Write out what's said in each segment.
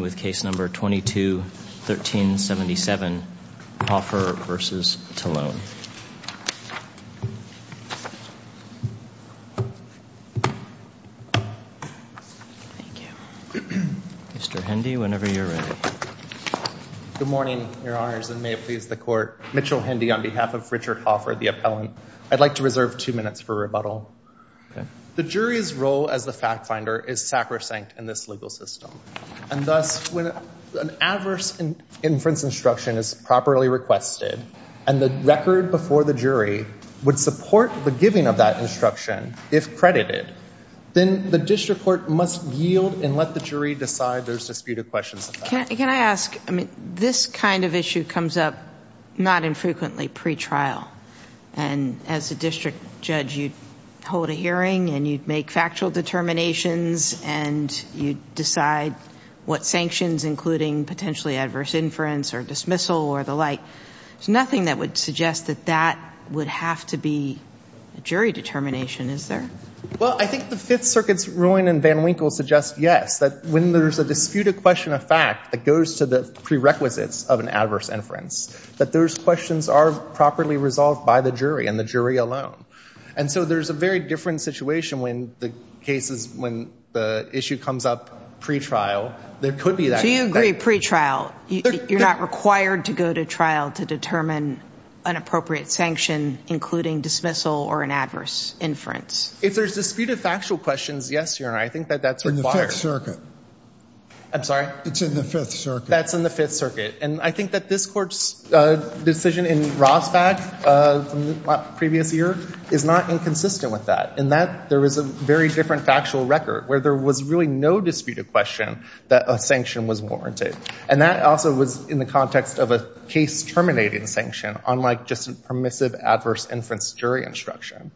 with case number 22-1377, Hoffer v. Tellone. Mr. Hendy, whenever you're ready. Good morning, Your Honors, and may it please the Court. Mitchell Hendy on behalf of Richard Hoffer, the appellant. I'd like to reserve two minutes for rebuttal. The jury's role as the fact-finder is sacrosanct in this legal system, and thus when an adverse inference instruction is properly requested, and the record before the jury would support the giving of that instruction if credited, then the district court must yield and let the jury decide there's disputed questions. Can I ask, I mean, this kind of issue comes up not infrequently pre-trial, and as a district judge you'd hold a hearing and you'd make factual determinations and you'd decide what sanctions, including potentially adverse inference or dismissal or the like. There's nothing that would suggest that that would have to be a jury determination, is there? Well, I think the Fifth Circuit's ruling in Van Winkle suggests yes, that when there's a disputed question of fact that goes to the prerequisites of an adverse inference, that those questions are properly resolved by the jury and the jury alone. And so there's a very different situation when the case is, when the issue comes up pre-trial, there could be that. So you agree, pre-trial, you're not required to go to trial to determine an appropriate sanction, including dismissal or an adverse inference? If there's disputed factual questions, yes, Your Honor, I think that that's required. In the Fifth Circuit. I'm sorry? It's in the Fifth Circuit. That's in the Fifth Circuit, and I think that this court's decision in Rosbach from the previous year is not inconsistent with that, in that there was a very different factual record where there was really no disputed question that a sanction was warranted. And that also was in the context of a case terminating sanction, unlike just a permissive adverse inference jury instruction.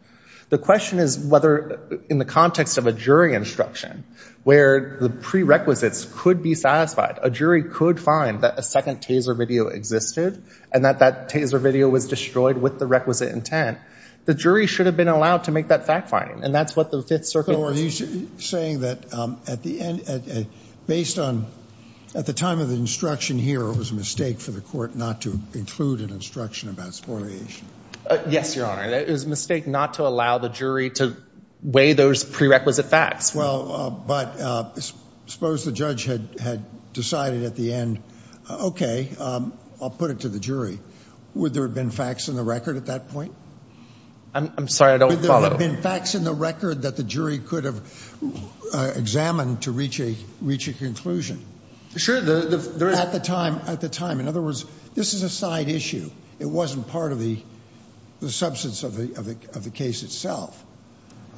The question is whether in the context of a jury instruction, where the prerequisites could be satisfied, a jury could find that a second taser video existed, and that that taser video was destroyed with the requisite intent. The jury should have been allowed to make that fact-finding, and that's what the Fifth Circuit... So are you saying that at the end, based on, at the time of the instruction here, it was a mistake for the court not to include an instruction about spoliation? Yes, Your Honor, it was a mistake not to allow the jury to weigh those prerequisite facts. Well, but suppose the judge had decided at the end, okay, I'll put it to the jury, would there have been facts in the record at that point? I'm sorry, I don't follow. Would there have been facts in the record that the jury could have examined to reach a, reach a conclusion? Sure, the... At the time, at the time. In other words, this is a side issue. It wasn't part of the, the substance of the case itself.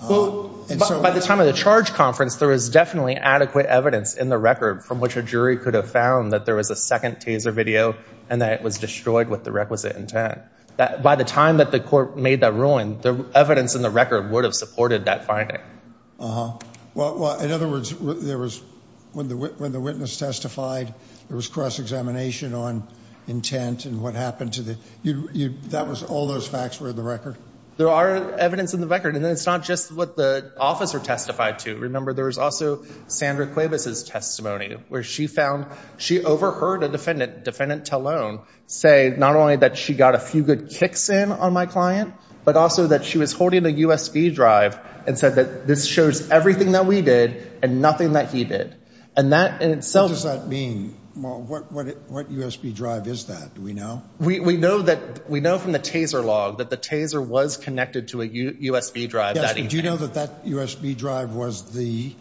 By the time of the charge conference, there was definitely adequate evidence in the record from which a jury could have come that there was a second taser video and that it was destroyed with the requisite intent. By the time that the court made that ruling, the evidence in the record would have supported that finding. Uh-huh. Well, in other words, there was, when the witness testified, there was cross-examination on intent and what happened to the... That was, all those facts were in the record? There are evidence in the record, and it's not just what the officer testified to. Remember, there was also Sandra Cuevas' testimony, where she found, she overheard a defendant, Defendant Talone, say not only that she got a few good kicks in on my client, but also that she was holding a USB drive and said that this shows everything that we did and nothing that he did. And that in itself... What does that mean? Well, what, what, what USB drive is that? Do we know? We, we know that, we know from the taser log that the taser was connected to a USB drive. Yes, do you know that that USB drive was the,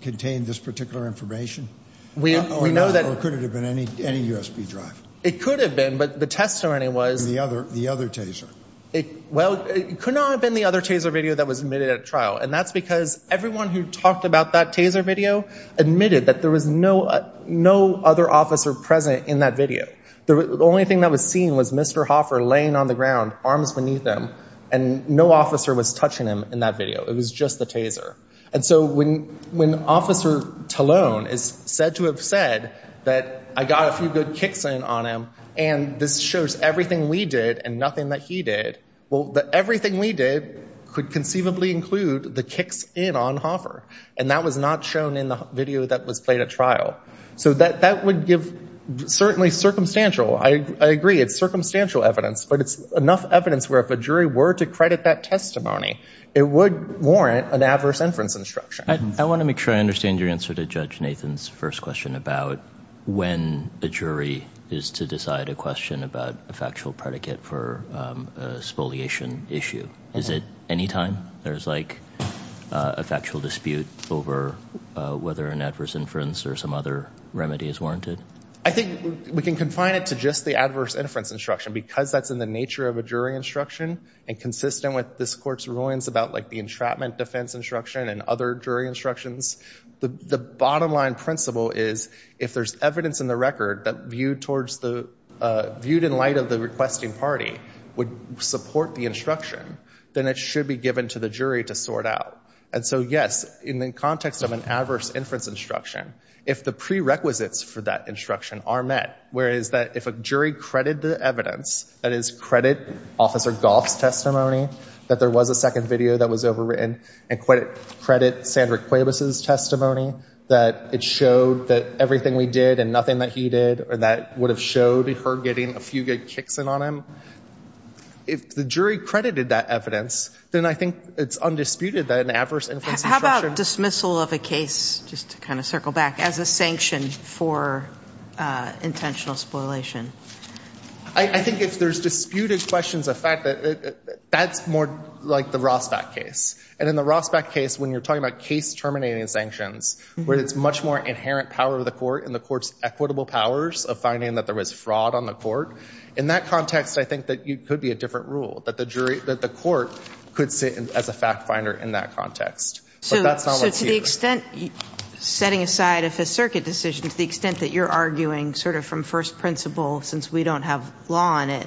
contained this particular information? We know that... Or could it have been any, any USB drive? It could have been, but the testimony was... The other, the other taser. It, well, it could not have been the other taser video that was admitted at trial, and that's because everyone who talked about that taser video admitted that there was no, no other officer present in that video. The only thing that was seen was Mr. Hoffer laying on the ground, arms beneath him, and no officer was touching him in that video. It was just the taser. And so when, when Officer Talone is said to have said that I got a few good kicks in on him, and this shows everything we did and nothing that he did, well, that everything we did could conceivably include the kicks in on Hoffer, and that was not shown in the video that was played at trial. So that, that would give certainly circumstantial, I agree, it's circumstantial evidence, but it's enough evidence where if a jury were to credit that testimony, it would warrant an adverse inference instruction. I want to make sure I understand your answer to Judge Nathan's first question about when a jury is to decide a question about a factual predicate for a spoliation issue. Is it anytime there's like a factual dispute over whether an adverse inference or some other remedy is warranted? I think we can confine it to just the adverse inference instruction because that's in the nature of a jury instruction and consistent with this Court's rulings about like the entrapment defense instruction and other jury instructions. The, the bottom line principle is if there's evidence in the record that viewed towards the, viewed in light of the requesting party would support the instruction, then it should be given to the jury to sort out. And so yes, in the context of an adverse inference instruction, if the prerequisites for that instruction are met, whereas that if a jury credited the evidence, that is credit Officer Goff's testimony, that there was a second video that was overwritten, and credit Sandra Cuevas' testimony, that it showed that everything we did and nothing that he did or that would have showed her getting a few good kicks in on him. If the jury credited that evidence, then I think it's undisputed that an adverse inference instruction... How about dismissal of a case, just to I think if there's disputed questions of fact that, that's more like the Rossback case. And in the Rossback case, when you're talking about case terminating sanctions, where it's much more inherent power of the court and the court's equitable powers of finding that there was fraud on the court, in that context I think that you could be a different rule, that the jury, that the court could sit as a fact finder in that context. So that's not what's here. So to the extent, setting aside if a circuit decision, to the extent that you're arguing sort of from first principle, since we don't have law on it,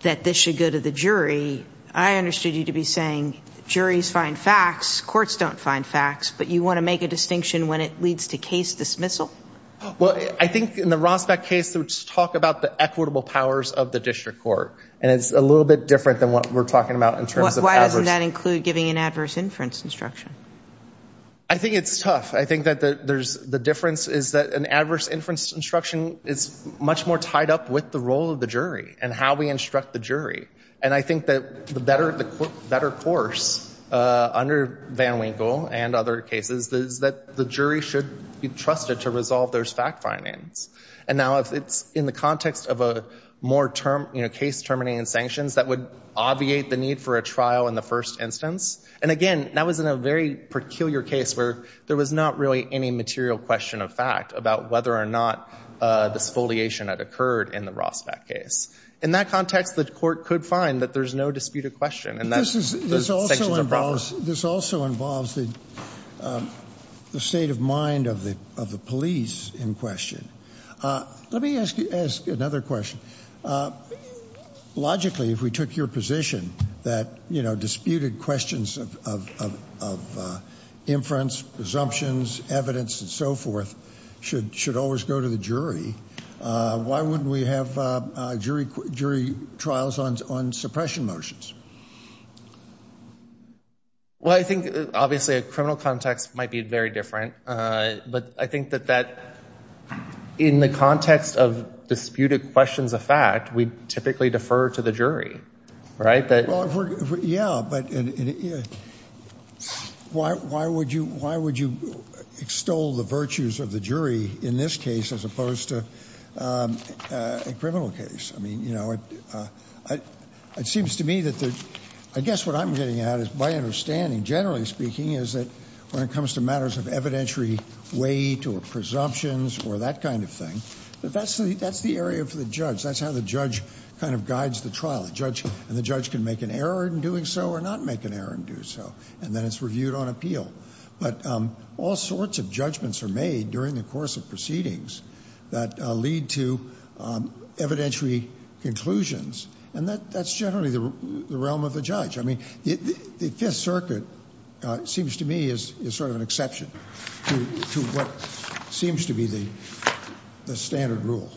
that this should go to the jury, I understood you to be saying, juries find facts, courts don't find facts, but you want to make a distinction when it leads to case dismissal? Well, I think in the Rossback case, let's talk about the equitable powers of the district court, and it's a little bit different than what we're talking about in terms of... Why doesn't that include giving an adverse inference instruction? I think it's tough. I think that there's the difference is that an adverse inference instruction is much more tied up with the role of the jury, and how we instruct the jury. And I think that the better, the better course under Van Winkle and other cases, is that the jury should be trusted to resolve those fact findings. And now if it's in the context of a more term, you know, case terminating sanctions, that would obviate the need for a trial in the first instance. And again, that was in a very peculiar case where there was not really any material question of fact about whether or not this foliation had occurred in the Rossback case. In that context, the court could find that there's no disputed question, and that's... This also involves the state of mind of the police in question. Let me ask you another question. Logically, if we took your position that, you know, inference, presumptions, evidence, and so forth should always go to the jury, why wouldn't we have jury trials on suppression motions? Well, I think obviously a criminal context might be very different, but I think that in the context of disputed questions of fact, we typically defer to the jury, right? Yeah, but why would you extol the virtues of the jury in this case as opposed to a criminal case? I mean, you know, it seems to me that the... I guess what I'm getting at is my understanding, generally speaking, is that when it comes to matters of evidentiary weight or presumptions or that kind of thing, that's the area for the judge. That's how the judge kind of decides the trial. The judge can make an error in doing so or not make an error in doing so, and then it's reviewed on appeal. But all sorts of judgments are made during the course of proceedings that lead to evidentiary conclusions, and that's generally the realm of the judge. I mean, the Fifth Circuit seems to me is sort of an exception to what seems to be the standard rule.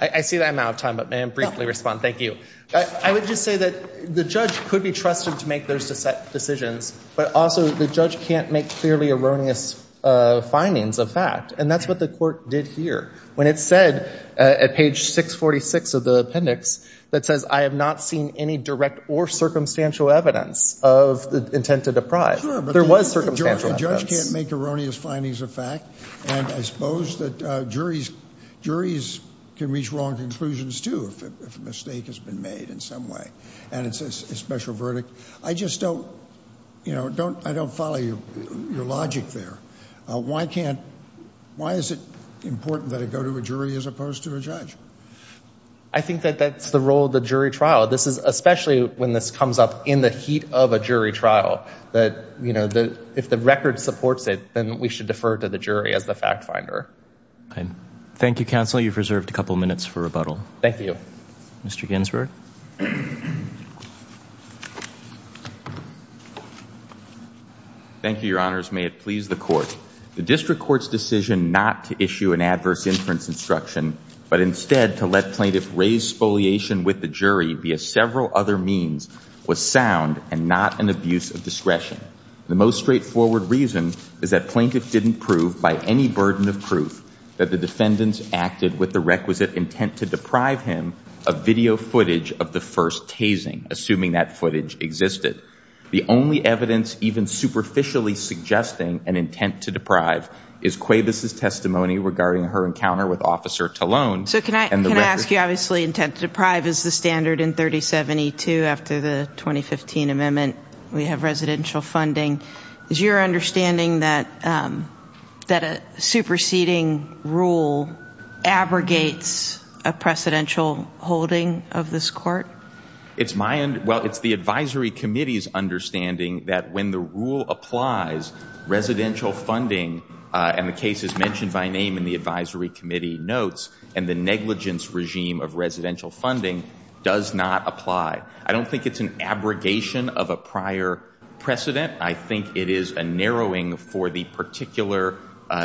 I see that I'm out of time, but may I briefly respond? Thank you. I would just say that the judge could be trusted to make those decisions, but also the judge can't make clearly erroneous findings of fact, and that's what the court did here. When it said at page 646 of the appendix that says, I have not seen any direct or circumstantial evidence of the intent to deprive, there was circumstantial evidence. Sure, but the judge can't make erroneous findings of fact, and I suppose that juries can reach wrong conclusions, too, if a mistake has been made in some way, and it's a special verdict. I just don't, you know, I don't follow your logic there. Why can't, why is it important that it go to a jury as opposed to a judge? I think that that's the role of the jury trial. This is, especially when this comes up in the heat of a jury trial, that, you know, that if the record supports it, then we should defer to the jury as the fact finder. Thank you, counsel. You've reserved a couple minutes for rebuttal. Thank you. Mr. Ginsburg. Thank you, your honors. May it please the court. The district court's decision not to issue an adverse inference instruction, but instead to let plaintiff raise spoliation with the jury via several other means was sound and not an abuse of discretion. The most straightforward reason is that plaintiff didn't prove by any burden of proof that the defendants acted with the requisite intent to deprive him of video footage of the first tasing, assuming that footage existed. The only evidence even superficially suggesting an intent to deprive is Cuevas' testimony regarding her encounter with Officer Talon. So can I ask you, obviously, intent to deprive is the standard in 3072 after the 2015 amendment. We have residential funding. Is your understanding that a superseding rule abrogates a precedential holding of this court? It's my, well, it's the advisory committee's understanding that when the rule applies, residential funding, and the case is mentioned by name in the advisory committee notes, and the negligence regime of residential funding does not apply. I don't think it's an abrogation of a prior precedent. I think it is a narrowing for the particular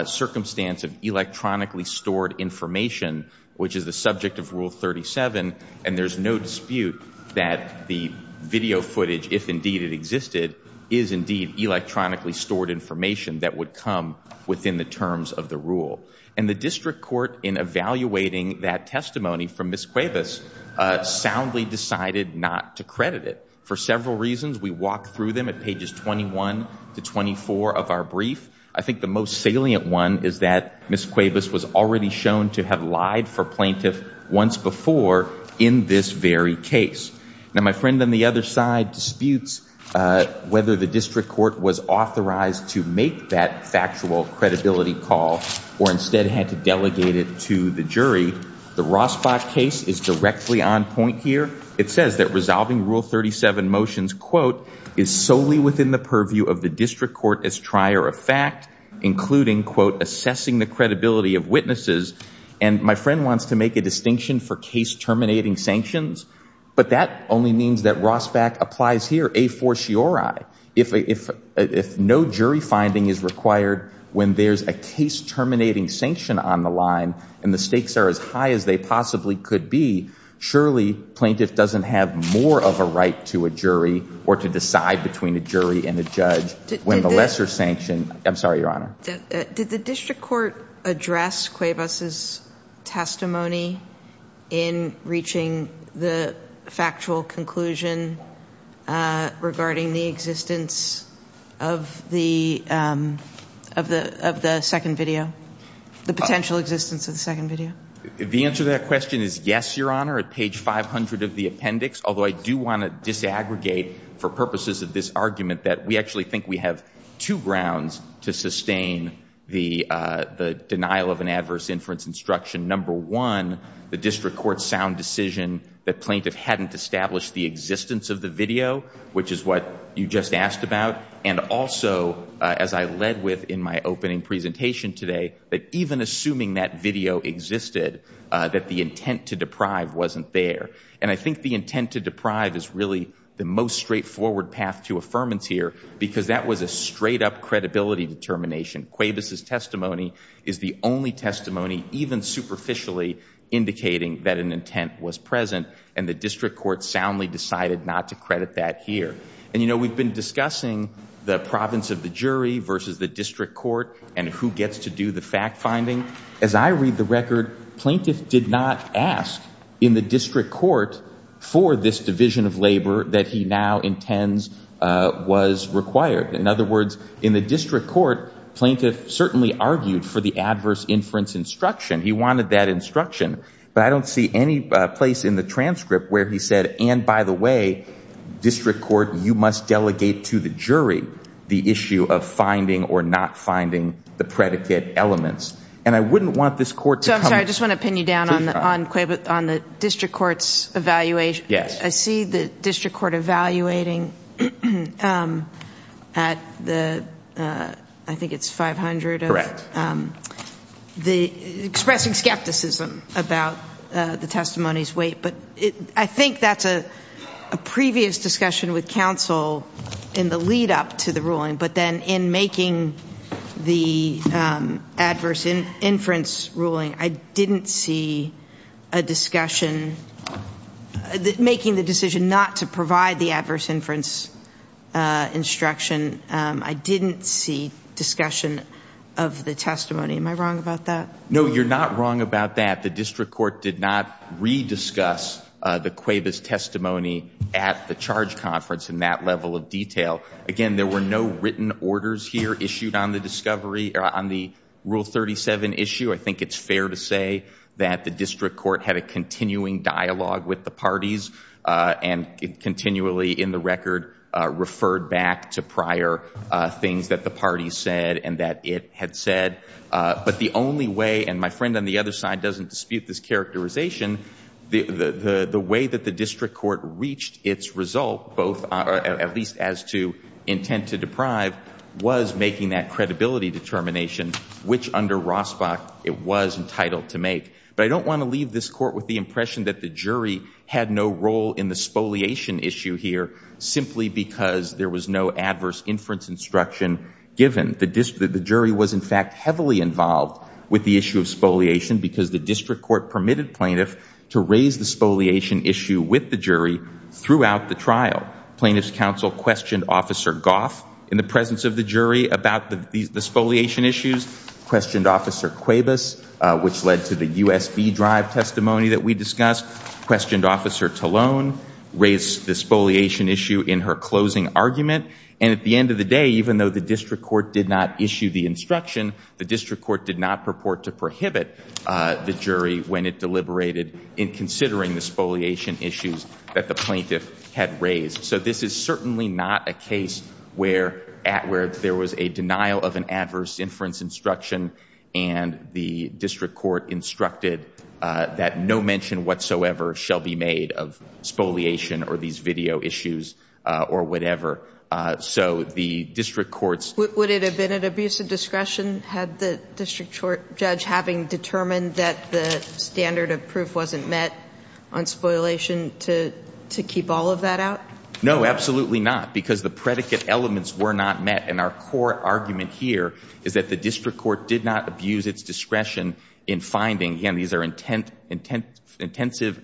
circumstance of electronically stored information, which is the subject of Rule 37, and there's no dispute that the video footage, if indeed it existed, is indeed electronically stored information that would come within the terms of the rule. And the district court, in evaluating that testimony from Ms. Cuevas, soundly decided not to credit it. For several reasons, we walk through them at pages 21 to 24 of our brief. I think the most salient one is that Ms. Cuevas was already shown to have lied for plaintiff once before in this very case. Now, my friend on the other side disputes whether the district court was authorized to make that factual credibility call or instead had to to the jury. The Rosbach case is directly on point here. It says that resolving Rule 37 motions, quote, is solely within the purview of the district court as trier of fact, including, quote, assessing the credibility of witnesses, and my friend wants to make a distinction for case terminating sanctions, but that only means that Rosbach applies here a forciori. If no jury finding is required, when there's a case terminating sanction on the line and the stakes are as high as they possibly could be, surely plaintiff doesn't have more of a right to a jury or to decide between a jury and a judge when the lesser sanction. I'm sorry, Your Honor. Did the district court address Cuevas' testimony in reaching the factual conclusion regarding the existence of the second video, the potential existence of the second video? The answer to that question is yes, Your Honor, at page 500 of the appendix, although I do want to disaggregate for purposes of this argument that we actually think we have two grounds to sustain the denial of an adverse inference instruction. Number one, the district court's sound decision that plaintiff hadn't established the existence of the video, which is what you just asked about, and also as I led with in my opening presentation today, that even assuming that video existed, that the intent to deprive wasn't there. And I think the intent to deprive is really the most straightforward path to affirmance here, because that was a straight-up credibility determination. Cuevas' testimony is the only testimony even superficially indicating that an intent was present, and the district court soundly decided not to credit that here. And you know, we've been discussing the province of the jury versus the district court and who gets to do the fact-finding. As I read the record, plaintiff did not ask in the district court for this division of labor that he now intends was required. In other words, in the district court, plaintiff certainly argued for the adverse inference instruction. He wanted that instruction, but I don't see any place in the transcript where he said, and by the way, district court, you must delegate to the jury the issue of finding or not finding the predicate elements. And I wouldn't want this court to come... So I'm sorry, I just want to pin you down on Cuevas, on the district court's evaluation. Yes. I see the district court evaluating at the, I think it's 500 of... Correct. The, expressing skepticism about the testimony's weight, but I think that's a previous discussion with counsel in the lead-up to the ruling, but then in making the adverse inference ruling, I didn't see a discussion, making the decision not to provide the adverse inference instruction, I didn't see discussion of the testimony. Am I wrong about that? No, you're not wrong about that. The district court did not re-discuss the Cuevas testimony at the charge conference in that level of detail. Again, there were no written orders here issued on the discovery, on the Rule 37 issue. I think it's fair to say that the district court had a continuing dialogue with the parties, and it continually, in the record, referred back to prior things that the party said and that it had said. But the only way, and my friend on the other side doesn't dispute this characterization, the way that the district court reached its result, both, at least as to intent to deprive, was making that credibility determination, which under Rosbach it was entitled to make. But I don't want to leave this court with the impression that the jury had no role in the spoliation issue here, simply because there was no adverse inference instruction given. The jury was, in fact, heavily involved with the issue of spoliation, because the district court permitted plaintiff to raise the spoliation issue with the jury throughout the trial. Plaintiff's counsel questioned Officer Goff in the presence of the jury about the spoliation issues, questioned Officer Cuevas, which led to the USB Drive testimony that we discussed, questioned Officer Talone, raised the spoliation issue in her argument. And at the end of the day, even though the district court did not issue the instruction, the district court did not purport to prohibit the jury when it deliberated in considering the spoliation issues that the plaintiff had raised. So this is certainly not a case where there was a denial of an adverse inference instruction and the district court instructed that no mention whatsoever shall be made of spoliation or these video issues or whatever. So the district court's... Would it have been an abuse of discretion had the district court judge having determined that the standard of proof wasn't met on spoliation to keep all of that out? No, absolutely not, because the predicate elements were not met. And our core argument here is that the district court did not abuse its discretion in finding, again, these are intensive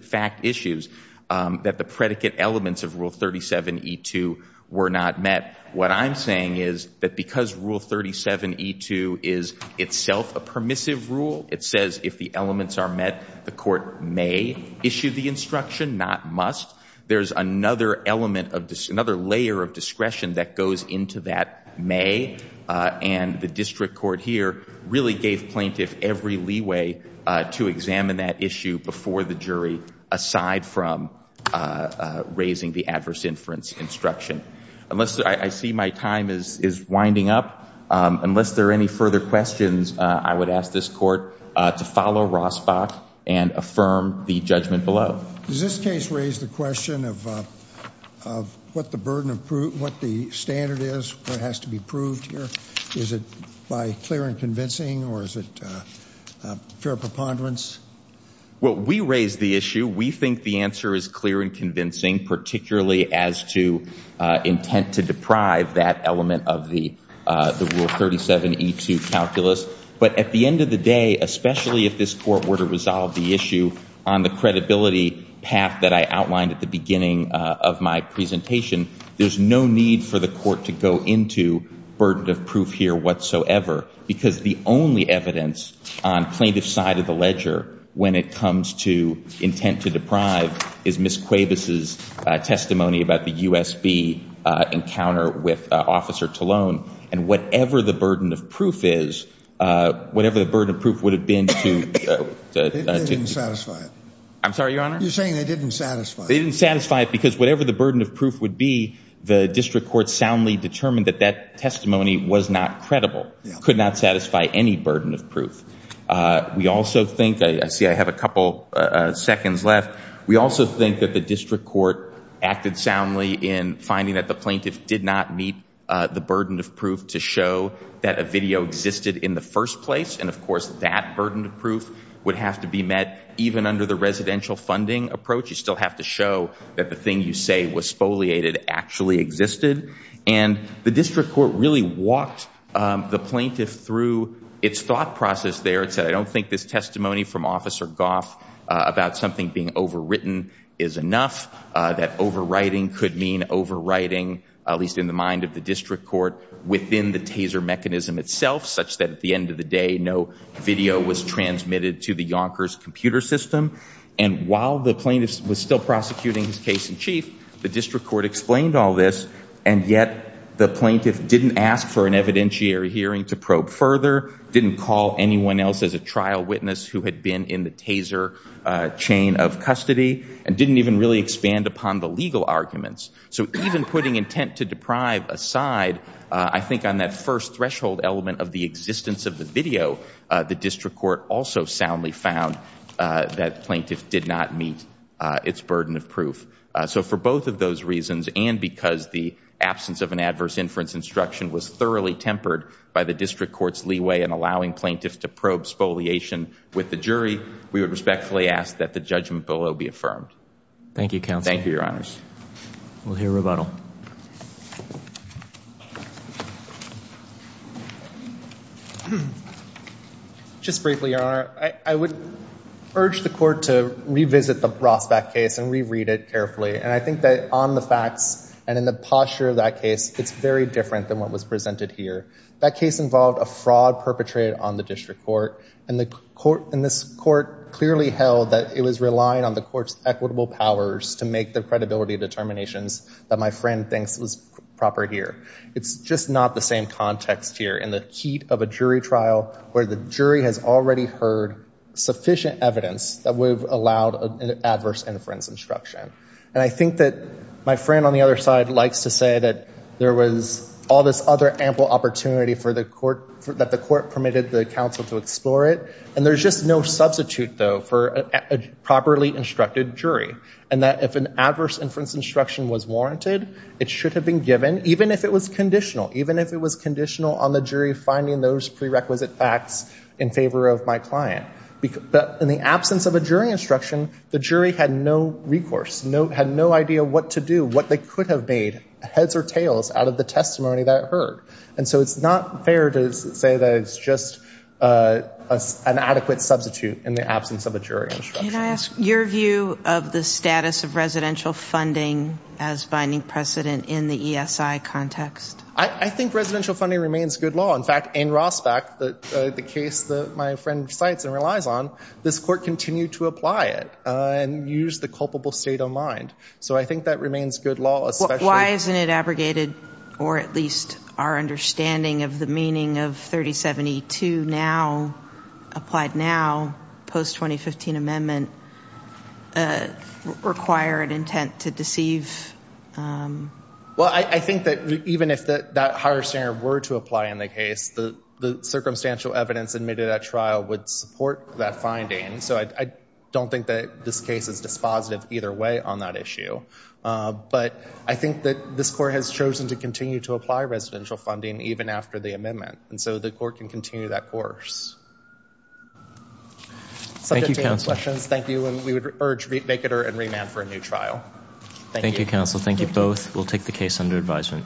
fact issues, that the predicate elements of Rule 37 E2 were not met. What I'm saying is that because Rule 37 E2 is itself a permissive rule, it says if the elements are met, the court may issue the instruction, not must. There's another element of this, another layer of discretion that goes into that may. And the district court here really gave plaintiff every leeway to examine that issue before the jury, aside from raising the adverse inference instruction. I see my time is winding up. Unless there are any further questions, I would ask this court to follow Rossbach and affirm the judgment below. Does this case raise the question of what the burden of proof, what the standard is, what has to be proved here? Is it by clear and convincing or is it fair preponderance? Well, we raised the issue. We think the answer is clear and convincing, particularly as to intent to deprive that element of the Rule 37 E2 calculus. But at the end of the day, especially if this court were to resolve the issue on the credibility path that I outlined at the beginning of my presentation, there's no need for the court to go into burden of proof here whatsoever, because the only evidence on plaintiff's side of the ledger when it comes to intent to deprive is Ms. Cuevas' testimony about the U.S.B. encounter with Officer Talone. And whatever the burden of proof is, whatever the burden of proof would have been to... They didn't satisfy it. I'm sorry, Your Honor? You're saying they didn't satisfy it. They didn't satisfy it because whatever the burden of proof would be, the district court soundly determined that that testimony was not credible, could not satisfy any burden of proof. We also think... See, I have a couple seconds left. We also think that the district court acted soundly in finding that the plaintiff did not meet the burden of proof to show that a video existed in the first place. And of course, that burden of proof would have to be met even under the residential funding approach. You still have to show that the thing you say was spoliated actually existed. And the district court really walked the plaintiff through its thought process there. It said, I don't think this testimony from Officer Goff about something being overwritten is enough. That overwriting could mean overwriting, at least in the mind of the district court, within the taser mechanism itself, such that at the end of the day, no video was transmitted to the Yonkers computer system. And while the plaintiff was still prosecuting his case in chief, the district court explained all this. And yet the plaintiff didn't ask for an evidentiary hearing to probe further, didn't call anyone else as a trial witness who had been in the taser chain of custody, and didn't even really expand upon the legal arguments. So even putting intent to deprive aside, I think on that first threshold element of the existence of the video, the district court also soundly found that plaintiff did not meet its burden of proof. So for both of those reasons, and because the absence of an adverse inference instruction was thoroughly tempered by the district court's leeway in allowing plaintiffs to probe spoliation with the jury, we would respectfully ask that the judgment below be affirmed. Thank you, Counsel. Thank you, Your Honors. We'll hear rebuttal. Just briefly, Your Honor, I would urge the court to revisit the Rosbach case and reread it carefully. And I think that on the facts and in the posture of that case, it's very different than what was presented here. That case involved a fraud perpetrated on the district court, and this court clearly held that it was relying on the court's equitable powers to make the credibility determinations that my friend thinks was proper here. It's just not the same context here in the heat of a jury trial where the jury has already heard sufficient evidence that we've allowed an adverse inference instruction. And I think that my friend on the other side likes to say that there was all this other ample opportunity that the court permitted the counsel to explore it. And there's just no substitute, though, for a properly instructed jury, and that if an adverse inference instruction was warranted, it should have been given, even if it was conditional, even if it was conditional on the jury finding those prerequisite facts in favor of my client. But in the absence of a jury instruction, the jury had no recourse, had no idea what to do, what they could have made heads or tails out of the testimony that it heard. And so it's not fair to say that it's just an adequate substitute in the absence of a jury instruction. Can I ask your view of the status of residential funding as binding precedent in the ESI context? I think residential funding remains good law. In fact, in Rossback, the case that my friend cites and relies on, this court continued to apply it and use the culpable state of mind. So I think that remains good law. Why isn't it abrogated, or at least our understanding of the meaning of 3072 now, applied now, post-2015 amendment, require an intent to deceive? Well, I think that even if that higher standard were to apply in the case, the circumstantial evidence admitted at trial would support that finding. So I don't think that this case is dispositive either way on that issue. But I think that this court has chosen to continue to apply residential funding even after the amendment. And so the court can continue that course. Thank you, counsel. Subject to any questions, thank you. And we would urge make it and remand for a new trial. Thank you, counsel. Thank you both. We'll take the case under advisement.